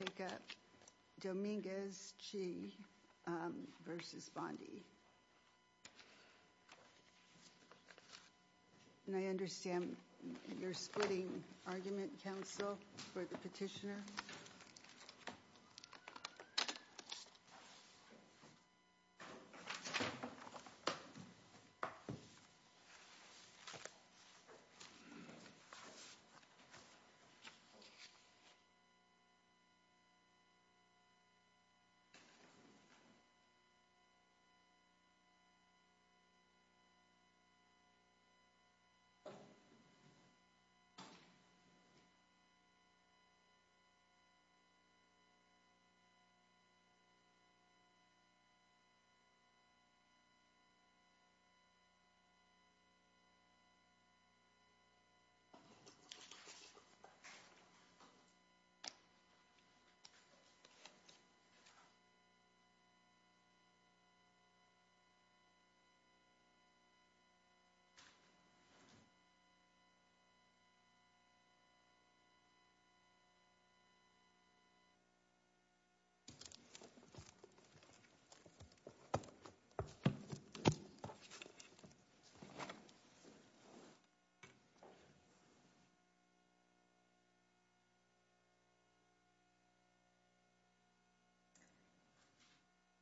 And I understand you're splitting argument, counsel, for the petitioner. Thank you. Thank you.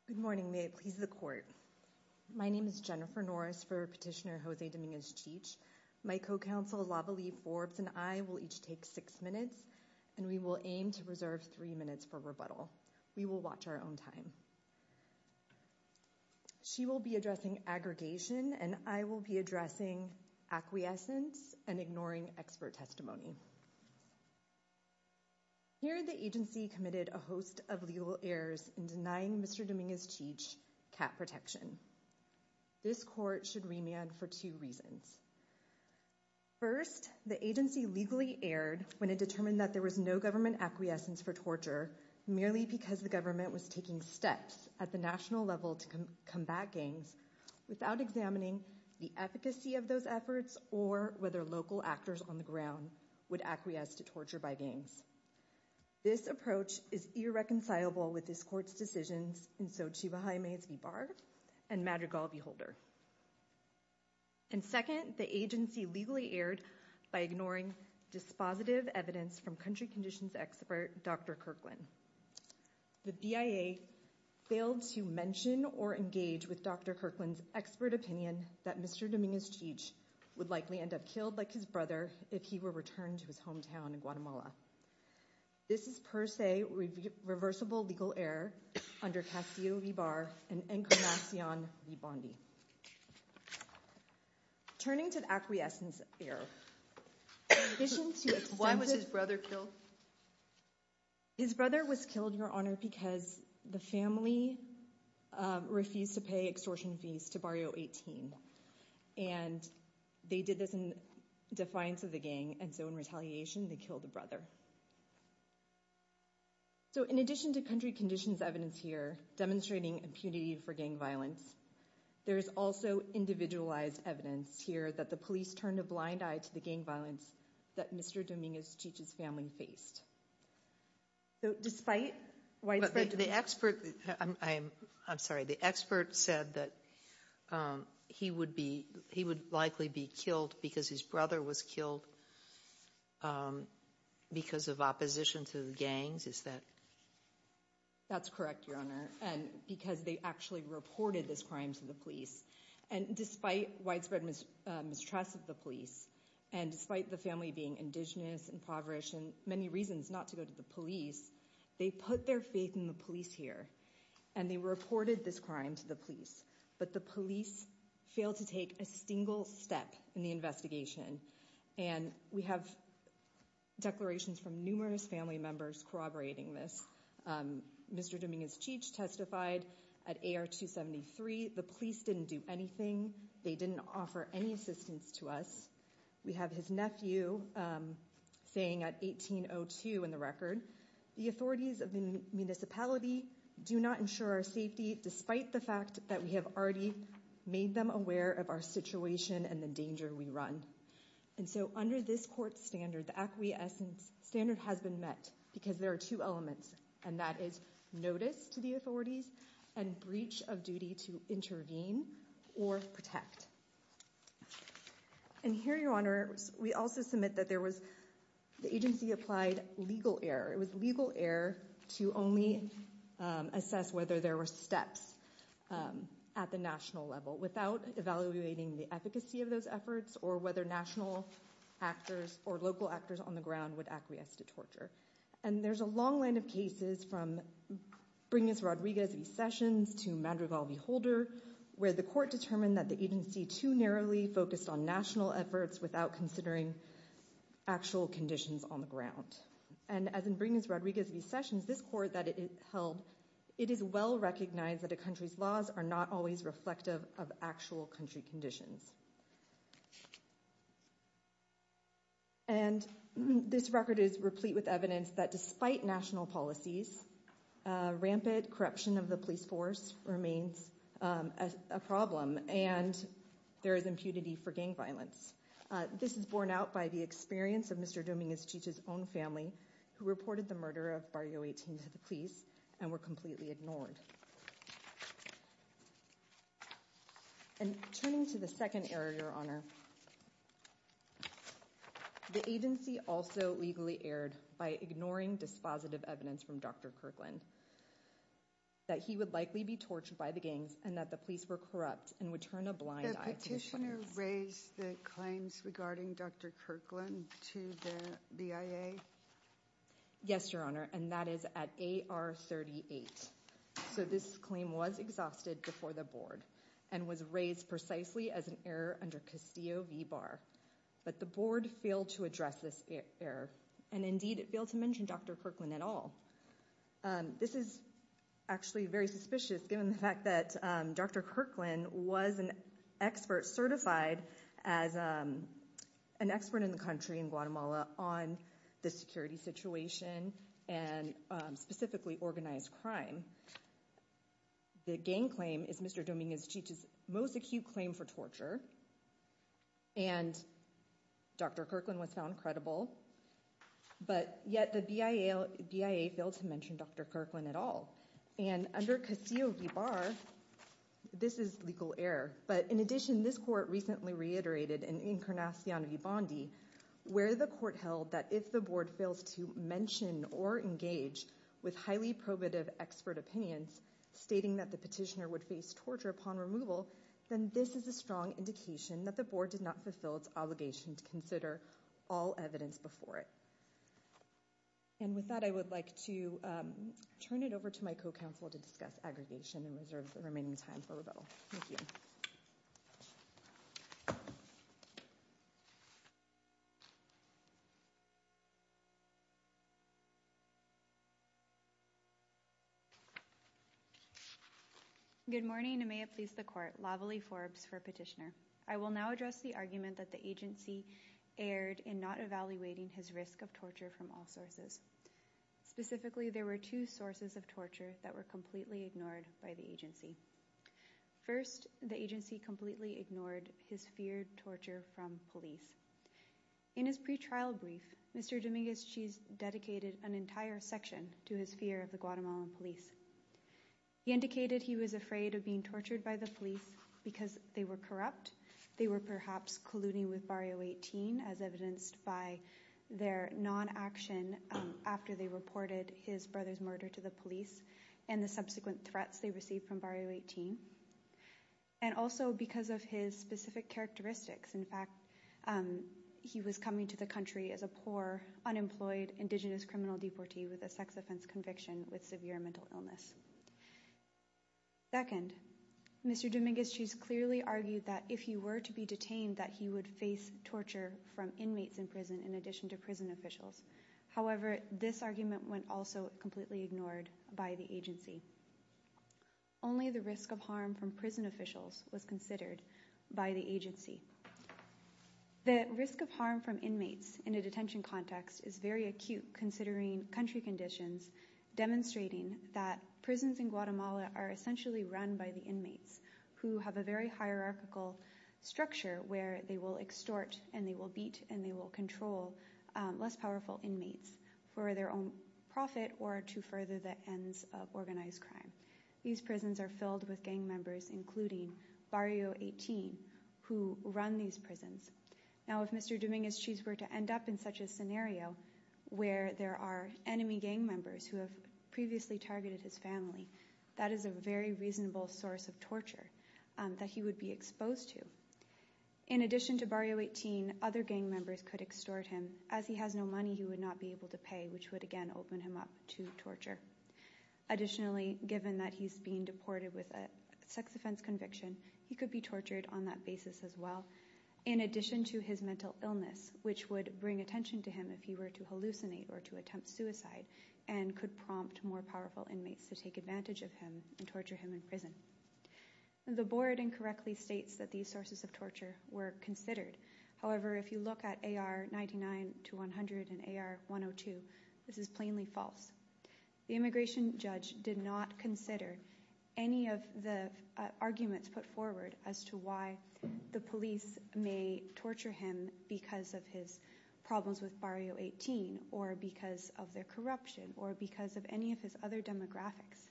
Good morning, may it please the court. My name is Jennifer Norris for petitioner Jose Dominguez-Chij. My co-counsel Lava Lee Forbes and I will each take six minutes and we will aim to reserve three minutes for rebuttal. We will watch our own time. She will be addressing aggregation and I will be addressing acquiescence and ignoring expert testimony. Here the agency committed a host of legal errors in denying Mr. Dominguez-Chij cat protection. This court should remand for two reasons. First, the agency legally erred when it determined that there was no government acquiescence for torture, merely because the government was taking steps at the national level to combat gangs, without examining the efficacy of those efforts or whether local actors on the ground would acquiesce to torture by gangs. This approach is irreconcilable with this court's decisions. And so Chibahay may be barred and Madrigal beholder. And second, the agency legally erred by ignoring dispositive evidence from country conditions expert Dr. Kirkland. The BIA failed to mention or engage with Dr. Kirkland's expert opinion that Mr. Dominguez-Chij would likely end up killed like his brother if he were returned to his hometown in Guatemala. This is per se reversible legal error under Castillo v. Barr and Encarnacion v. Bondi. Turning to the acquiescence error. Why was his brother killed? His brother was killed, Your Honor, because the family refused to pay extortion fees to Barrio 18. And they did this in defiance of the gang. And so in retaliation, they killed the brother. So in addition to country conditions evidence here demonstrating impunity for gang violence, there is also individualized evidence here that the police turned a blind eye to the gang violence that Mr. Dominguez-Chij's family faced. Despite the expert. I'm sorry. The expert said that he would be he would likely be killed because his brother was killed because of opposition to the gangs. Is that. That's correct, Your Honor. And because they actually reported this crime to the police. And despite widespread mistrust of the police and despite the family being indigenous and impoverished and many reasons not to go to the police, they put their faith in the police here and they reported this crime to the police. But the police failed to take a single step in the investigation. And we have declarations from numerous family members corroborating this. Mr. Dominguez-Chij testified at AR 273. The police didn't do anything. They didn't offer any assistance to us. We have his nephew saying at 1802 in the record, the authorities of the municipality do not ensure our safety, despite the fact that we have already made them aware of our situation and the danger we run. And so under this court standard, the acquiescence standard has been met because there are two elements, and that is notice to the authorities and breach of duty to intervene or protect. And here, Your Honor, we also submit that there was the agency applied legal error. It was legal error to only assess whether there were steps at the national level without evaluating the efficacy of those efforts or whether national actors or local actors on the ground would acquiesce to torture. And there's a long line of cases from Bringus-Rodriguez v. Sessions to Madrigal v. Holder, where the court determined that the agency too narrowly focused on national efforts without considering actual conditions on the ground. And as in Bringus-Rodriguez v. Sessions, this court that it held, it is well recognized that a country's laws are not always reflective of actual country conditions. And this record is replete with evidence that despite national policies, rampant corruption of the police force remains a problem, and there is impunity for gang violence. This is borne out by the experience of Mr. Dominguez-Chich's own family, who reported the murder of Barrio 18 to the police and were completely ignored. And turning to the second error, Your Honor, the agency also legally erred by ignoring dispositive evidence from Dr. Kirkland that he would likely be tortured by the gangs and that the police were corrupt and would turn a blind eye. The petitioner raised the claims regarding Dr. Kirkland to the BIA? Yes, Your Honor, and that is at AR 38. So this claim was exhausted before the board and was raised precisely as an error under Castillo v. Barr. But the board failed to address this error, and indeed it failed to mention Dr. Kirkland at all. This is actually very suspicious given the fact that Dr. Kirkland was an expert, on the security situation and specifically organized crime. The gang claim is Mr. Dominguez-Chich's most acute claim for torture, and Dr. Kirkland was found credible, but yet the BIA failed to mention Dr. Kirkland at all. And under Castillo v. Barr, this is legal error. But in addition, this court recently reiterated in Encarnacion v. Bondi, where the court held that if the board fails to mention or engage with highly probative expert opinions, stating that the petitioner would face torture upon removal, then this is a strong indication that the board did not fulfill its obligation to consider all evidence before it. And with that, I would like to turn it over to my co-counsel to discuss aggregation and reserve the remaining time for rebuttal. Thank you. Good morning, and may it please the court. Lavely Forbes for petitioner. I will now address the argument that the agency erred in not evaluating his risk of torture from all sources. Specifically, there were two sources of torture that were completely ignored by the agency. First, the agency completely ignored his feared torture from police. In his pretrial brief, Mr. Dominguez-Chich dedicated an entire section to his fear of the Guatemalan police. He indicated he was afraid of being tortured by the police because they were corrupt. They were perhaps colluding with Barrio 18 as evidenced by their non-action after they reported his brother's murder to the police and the subsequent threats they received from Barrio 18. And also because of his specific characteristics. In fact, he was coming to the country as a poor, unemployed, indigenous criminal deportee with a sex offense conviction with severe mental illness. Second, Mr. Dominguez-Chich clearly argued that if he were to be detained, that he would face torture from inmates in prison in addition to prison officials. However, this argument went also completely ignored by the agency. Only the risk of harm from prison officials was considered by the agency. The risk of harm from inmates in a detention context is very acute considering country conditions demonstrating that prisons in Guatemala are essentially run by the inmates who have a very hierarchical structure where they will extort and they will beat and they will control less powerful inmates for their own profit or to further the ends of organized crime. These prisons are filled with gang members including Barrio 18 who run these prisons. Now, if Mr. Dominguez-Chich were to end up in such a scenario where there are enemy gang members who have previously targeted his family, that is a very reasonable source of torture that he would be exposed to. In addition to Barrio 18, other gang members could extort him. As he has no money, he would not be able to pay which would again open him up to torture. Additionally, given that he's being deported with a sex offense conviction, he could be tortured on that basis as well. In addition to his mental illness which would bring attention to him if he were to hallucinate or to attempt suicide and could prompt more powerful inmates to take advantage of him and torture him in prison. The board incorrectly states that these sources of torture were considered. However, if you look at AR 99 to 100 and AR 102, this is plainly false. The immigration judge did not consider any of the arguments put forward as to why the police may torture him because of his problems with Barrio 18 or because of their corruption or because of any of his other demographics.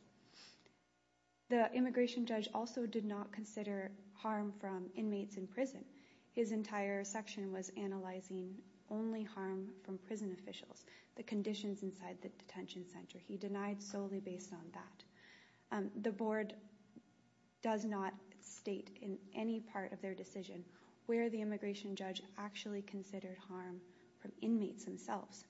The immigration judge also did not consider harm from inmates in prison. His entire section was analyzing only harm from prison officials, the conditions inside the detention center. He denied solely based on that. The board does not state in any part of their decision where the immigration judge actually considered harm from inmates themselves.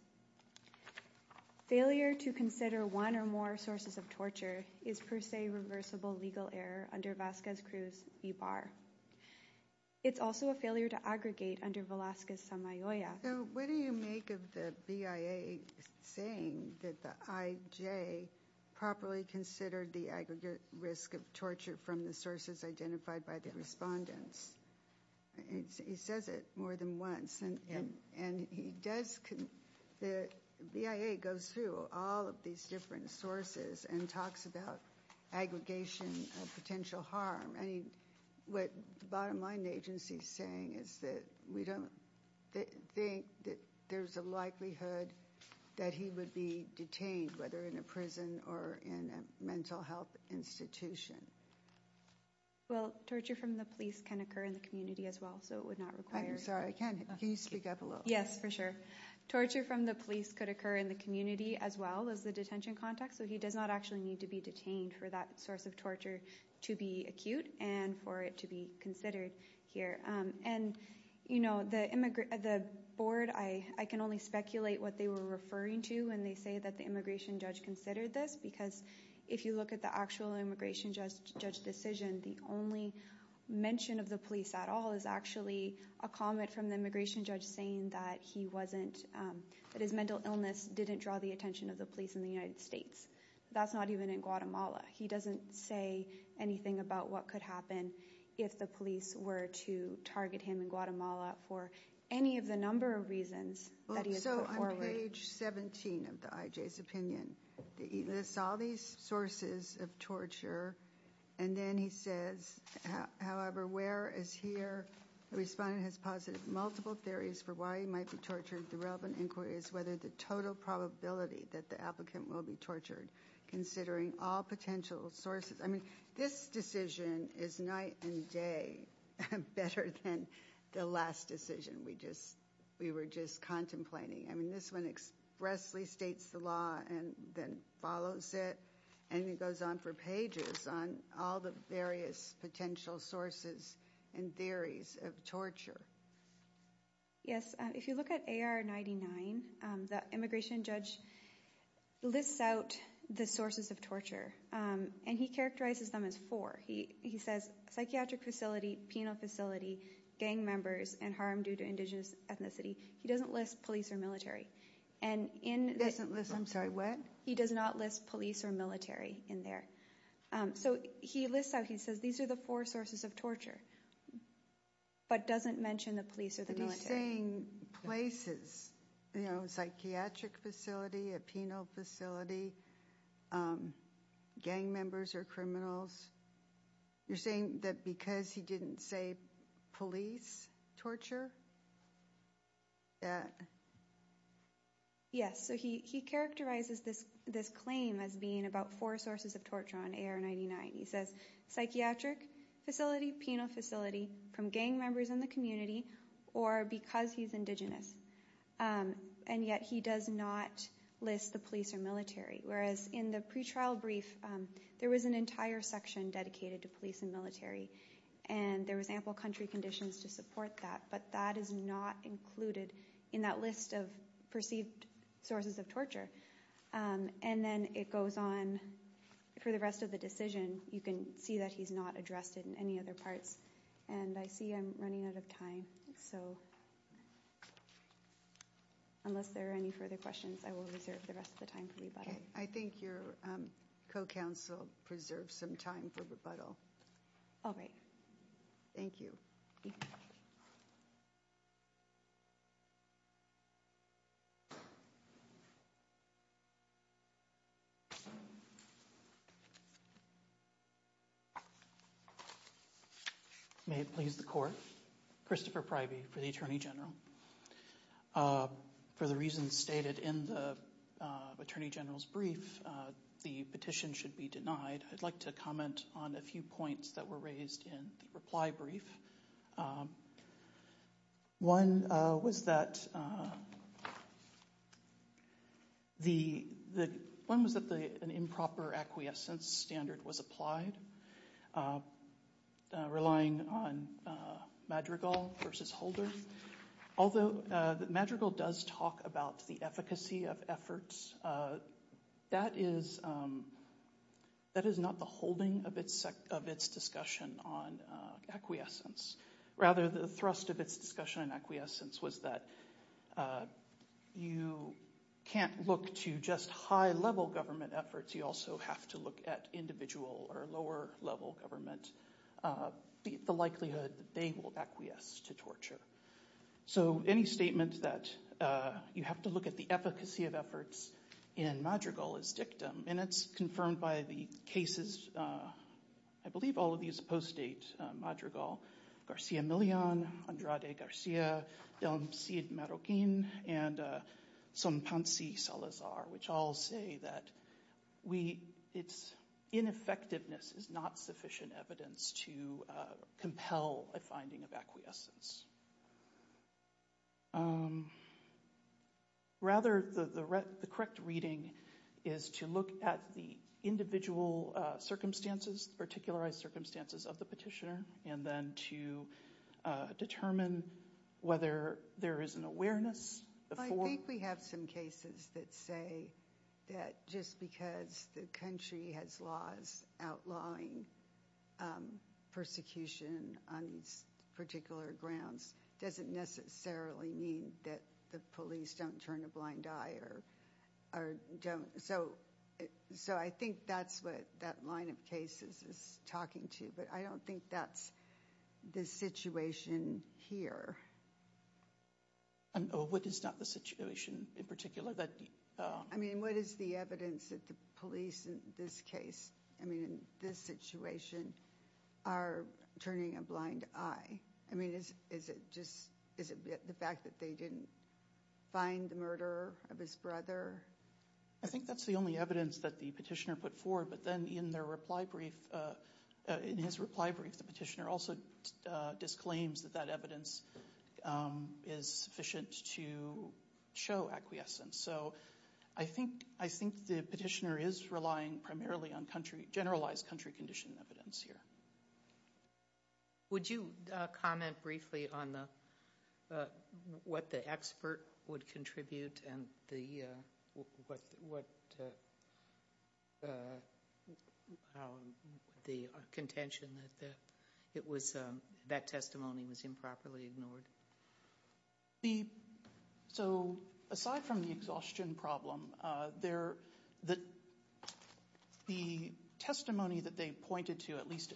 Failure to consider one or more sources of torture is per se reversible legal error under Vasquez-Cruz v. Barr. It's also a failure to aggregate under Velazquez-Samayoya. So what do you make of the BIA saying that the IJ properly considered the aggregate risk of torture from the sources identified by the respondents? He says it more than once and he does – the BIA goes through all of these different sources and talks about aggregation of potential harm. I mean, what the bottom line the agency is saying is that we don't think that there's a likelihood that he would be detained, whether in a prison or in a mental health institution. Well, torture from the police can occur in the community as well, so it would not require – I'm sorry, can you speak up a little? Yes, for sure. Torture from the police could occur in the community as well as the detention context, so he does not actually need to be detained for that source of torture to be acute and for it to be considered here. And, you know, the board, I can only speculate what they were referring to when they say that the immigration judge considered this, because if you look at the actual immigration judge decision, the only mention of the police at all is actually a comment from the immigration judge saying that he wasn't – that his mental illness didn't draw the attention of the police in the United States. That's not even in Guatemala. He doesn't say anything about what could happen if the police were to target him in Guatemala for any of the number of reasons that he has put forward. So on page 17 of the IJ's opinion, he lists all these sources of torture, and then he says, however, where is here? The respondent has posited multiple theories for why he might be tortured. The relevant inquiry is whether the total probability that the applicant will be tortured, considering all potential sources. I mean, this decision is night and day better than the last decision we just – we were just contemplating. I mean, this one expressly states the law and then follows it, and it goes on for pages on all the various potential sources and theories of torture. Yes. If you look at AR-99, the immigration judge lists out the sources of torture, and he characterizes them as four. He says psychiatric facility, penal facility, gang members, and harm due to indigenous ethnicity. He doesn't list police or military. He doesn't list – I'm sorry, what? He does not list police or military in there. So he lists out – he says these are the four sources of torture, but doesn't mention the police or the military. But he's saying places, you know, psychiatric facility, a penal facility, gang members or criminals. You're saying that because he didn't say police torture? Yeah. Yes. So he characterizes this claim as being about four sources of torture on AR-99. He says psychiatric facility, penal facility, from gang members in the community, or because he's indigenous. And yet he does not list the police or military, whereas in the pretrial brief, there was an entire section dedicated to police and military, and there was ample country conditions to support that. But that is not included in that list of perceived sources of torture. And then it goes on for the rest of the decision. You can see that he's not addressed it in any other parts. And I see I'm running out of time, so unless there are any further questions, I will reserve the rest of the time for rebuttal. I think your co-counsel preserves some time for rebuttal. All right. Thank you. May it please the Court. Christopher Pryby for the Attorney General. For the reasons stated in the Attorney General's brief, the petition should be denied. I'd like to comment on a few points that were raised in the reply brief. One was that an improper acquiescence standard was applied, relying on Madrigal versus Holder. Although Madrigal does talk about the efficacy of efforts, that is not the holding of its discussion on acquiescence. Rather, the thrust of its discussion on acquiescence was that you can't look to just high-level government efforts. You also have to look at individual or lower-level government, the likelihood that they will acquiesce to torture. So any statement that you have to look at the efficacy of efforts in Madrigal is dictum, and it's confirmed by the cases, I believe all of these post-date Madrigal, Garcia Millon, Andrade Garcia, Delmcid Marroquin, and Sonpansi Salazar, which all say that its ineffectiveness is not sufficient evidence to compel a finding of acquiescence. Rather, the correct reading is to look at the individual circumstances, the particular circumstances of the petitioner, and then to determine whether there is an awareness. I think we have some cases that say that just because the country has laws outlawing persecution on particular grounds doesn't necessarily mean that the police don't turn a blind eye. So I think that's what that line of cases is talking to, but I don't think that's the situation here. What is not the situation in particular? What is the evidence that the police in this case, in this situation, are turning a blind eye? I mean, is it just the fact that they didn't find the murder of his brother? I think that's the only evidence that the petitioner put forward, but then in his reply brief, the petitioner also disclaims that that evidence is sufficient to show acquiescence. So I think the petitioner is relying primarily on generalized country condition evidence here. Would you comment briefly on what the expert would contribute and the contention that that testimony was improperly ignored? So aside from the exhaustion problem, the testimony that they pointed to, at least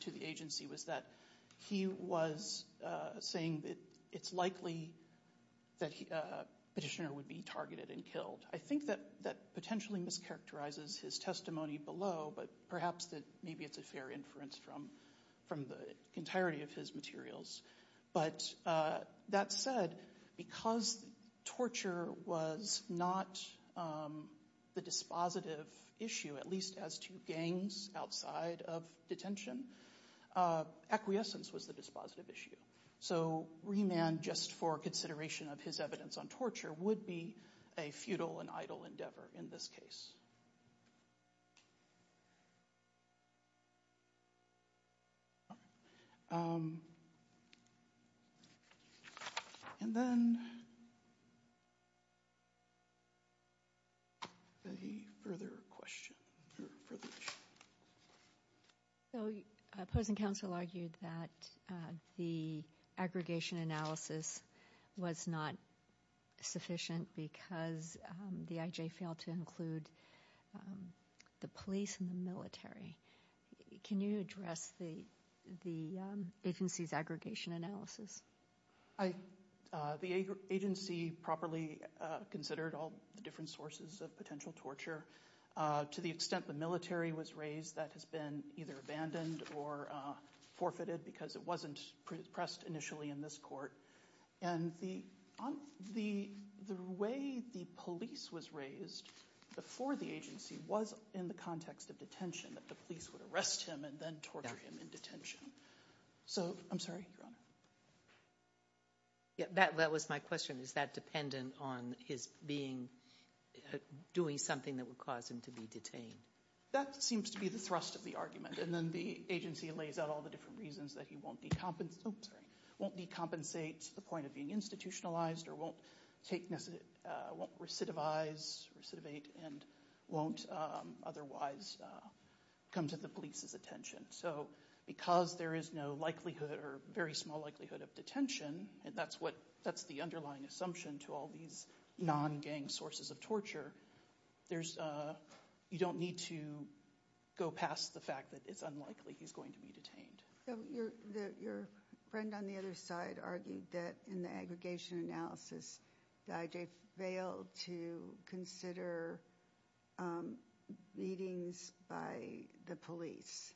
to the agency, was that he was saying that it's likely that the petitioner would be targeted and killed. I think that that potentially mischaracterizes his testimony below, but perhaps that maybe it's a fair inference from the entirety of his materials. But that said, because torture was not the dispositive issue, at least as to gangs outside of detention, acquiescence was the dispositive issue. So Rehman, just for consideration of his evidence on torture, would be a futile and idle endeavor in this case. All right. And then any further questions or further issues? So opposing counsel argued that the aggregation analysis was not sufficient because the IJ failed to include the police and the military. Can you address the agency's aggregation analysis? The agency properly considered all the different sources of potential torture. To the extent the military was raised, that has been either abandoned or forfeited because it wasn't pressed initially in this court. And the way the police was raised before the agency was in the context of detention, that the police would arrest him and then torture him in detention. So I'm sorry, Your Honor. That was my question. Is that dependent on his doing something that would cause him to be detained? That seems to be the thrust of the argument. And then the agency lays out all the different reasons that he won't decompensate to the point of being institutionalized or won't recidivize, recidivate, and won't otherwise come to the police's attention. So because there is no likelihood or very small likelihood of detention, and that's the underlying assumption to all these non-gang sources of torture, you don't need to go past the fact that it's unlikely he's going to be detained. Your friend on the other side argued that in the aggregation analysis, the IJ failed to consider beatings by the police.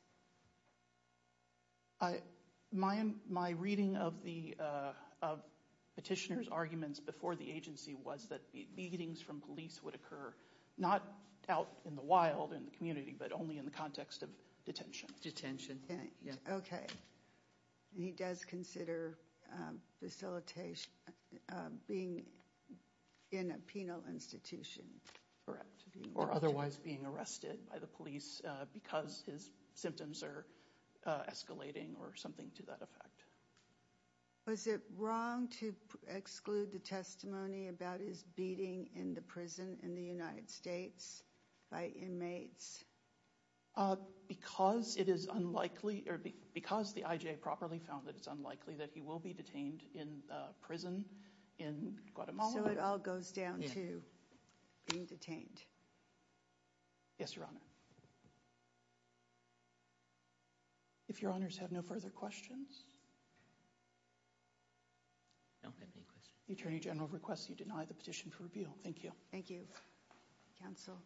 My reading of the petitioner's arguments before the agency was that beatings from police would occur, not out in the wild in the community, but only in the context of detention. Okay. He does consider being in a penal institution. Or otherwise being arrested by the police because his symptoms are escalating or something to that effect. Was it wrong to exclude the testimony about his beating in the prison in the United States by inmates? Because the IJ properly found that it's unlikely that he will be detained in prison in Guatemala. So it all goes down to being detained. Yes, Your Honor. If Your Honors have no further questions. I don't have any questions. The Attorney General requests that you deny the petition for reveal. Thank you. Thank you, Counsel. Thank you.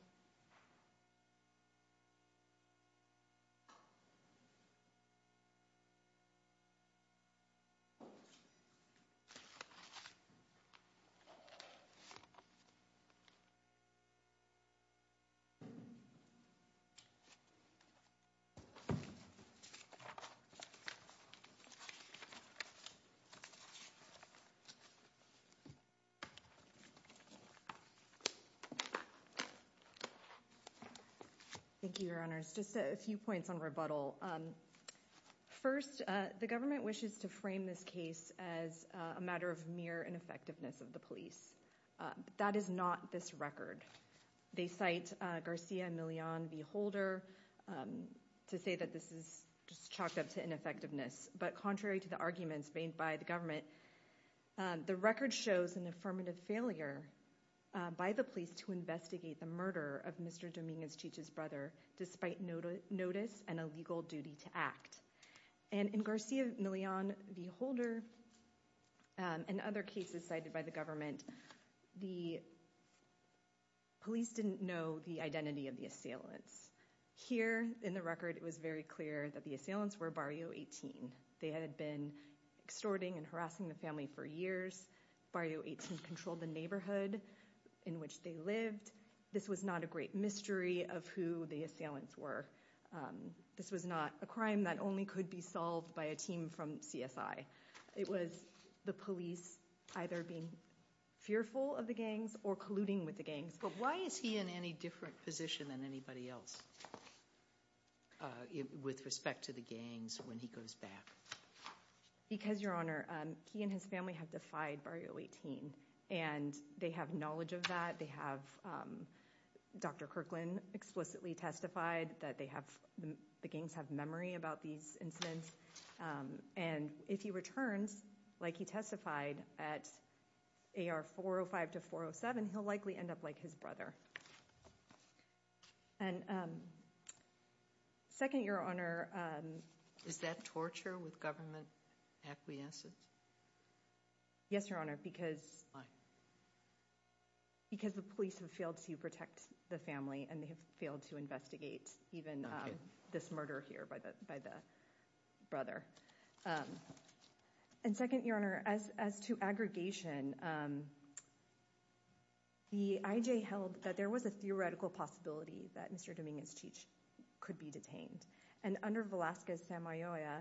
Thank you, Your Honors. Just a few points on rebuttal. First, the government wishes to frame this case as a matter of mere ineffectiveness of the police. That is not this record. They cite Garcia Millon v. Holder to say that this is just chalked up to ineffectiveness. But contrary to the arguments made by the government, the record shows an affirmative failure by the police to investigate the murder of Mr. Dominguez-Chich's brother despite notice and a legal duty to act. And in Garcia Millon v. Holder and other cases cited by the government, the police didn't know the identity of the assailants. Here in the record, it was very clear that the assailants were Barrio 18. They had been extorting and harassing the family for years. Barrio 18 controlled the neighborhood in which they lived. This was not a great mystery of who the assailants were. This was not a crime that only could be solved by a team from CSI. It was the police either being fearful of the gangs or colluding with the gangs. But why is he in any different position than anybody else with respect to the gangs when he goes back? Because, Your Honor, he and his family have defied Barrio 18. And they have knowledge of that. They have Dr. Kirkland explicitly testified that the gangs have memory about these incidents. And if he returns like he testified at AR 405 to 407, he'll likely end up like his brother. And second, Your Honor... Is that torture with government acquiescence? Yes, Your Honor, because... Why? Because the police have failed to protect the family and they have failed to investigate even this murder here by the brother. And second, Your Honor, as to aggregation... The IJ held that there was a theoretical possibility that Mr. Dominguez-Cheech could be detained. And under Velasquez-Samayoya,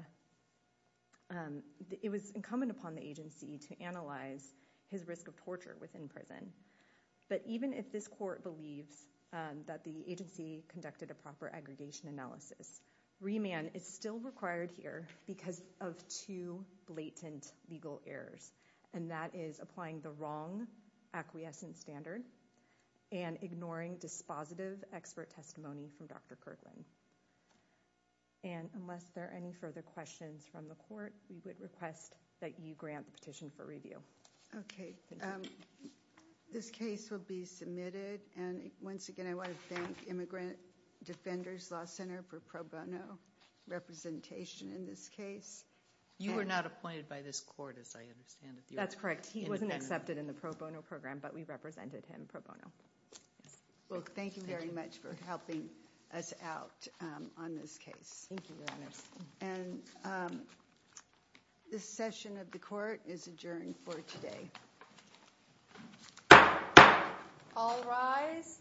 it was incumbent upon the agency to analyze his risk of torture within prison. But even if this court believes that the agency conducted a proper aggregation analysis, remand is still required here because of two blatant legal errors. And that is applying the wrong acquiescent standard and ignoring dispositive expert testimony from Dr. Kirkland. And unless there are any further questions from the court, we would request that you grant the petition for review. Okay. This case will be submitted. And once again, I want to thank Immigrant Defenders Law Center for pro bono representation in this case. You were not appointed by this court, as I understand it. That's correct. He wasn't accepted in the pro bono program, but we represented him pro bono. Well, thank you very much for helping us out on this case. Thank you, Your Honor. And this session of the court is adjourned for today. All rise.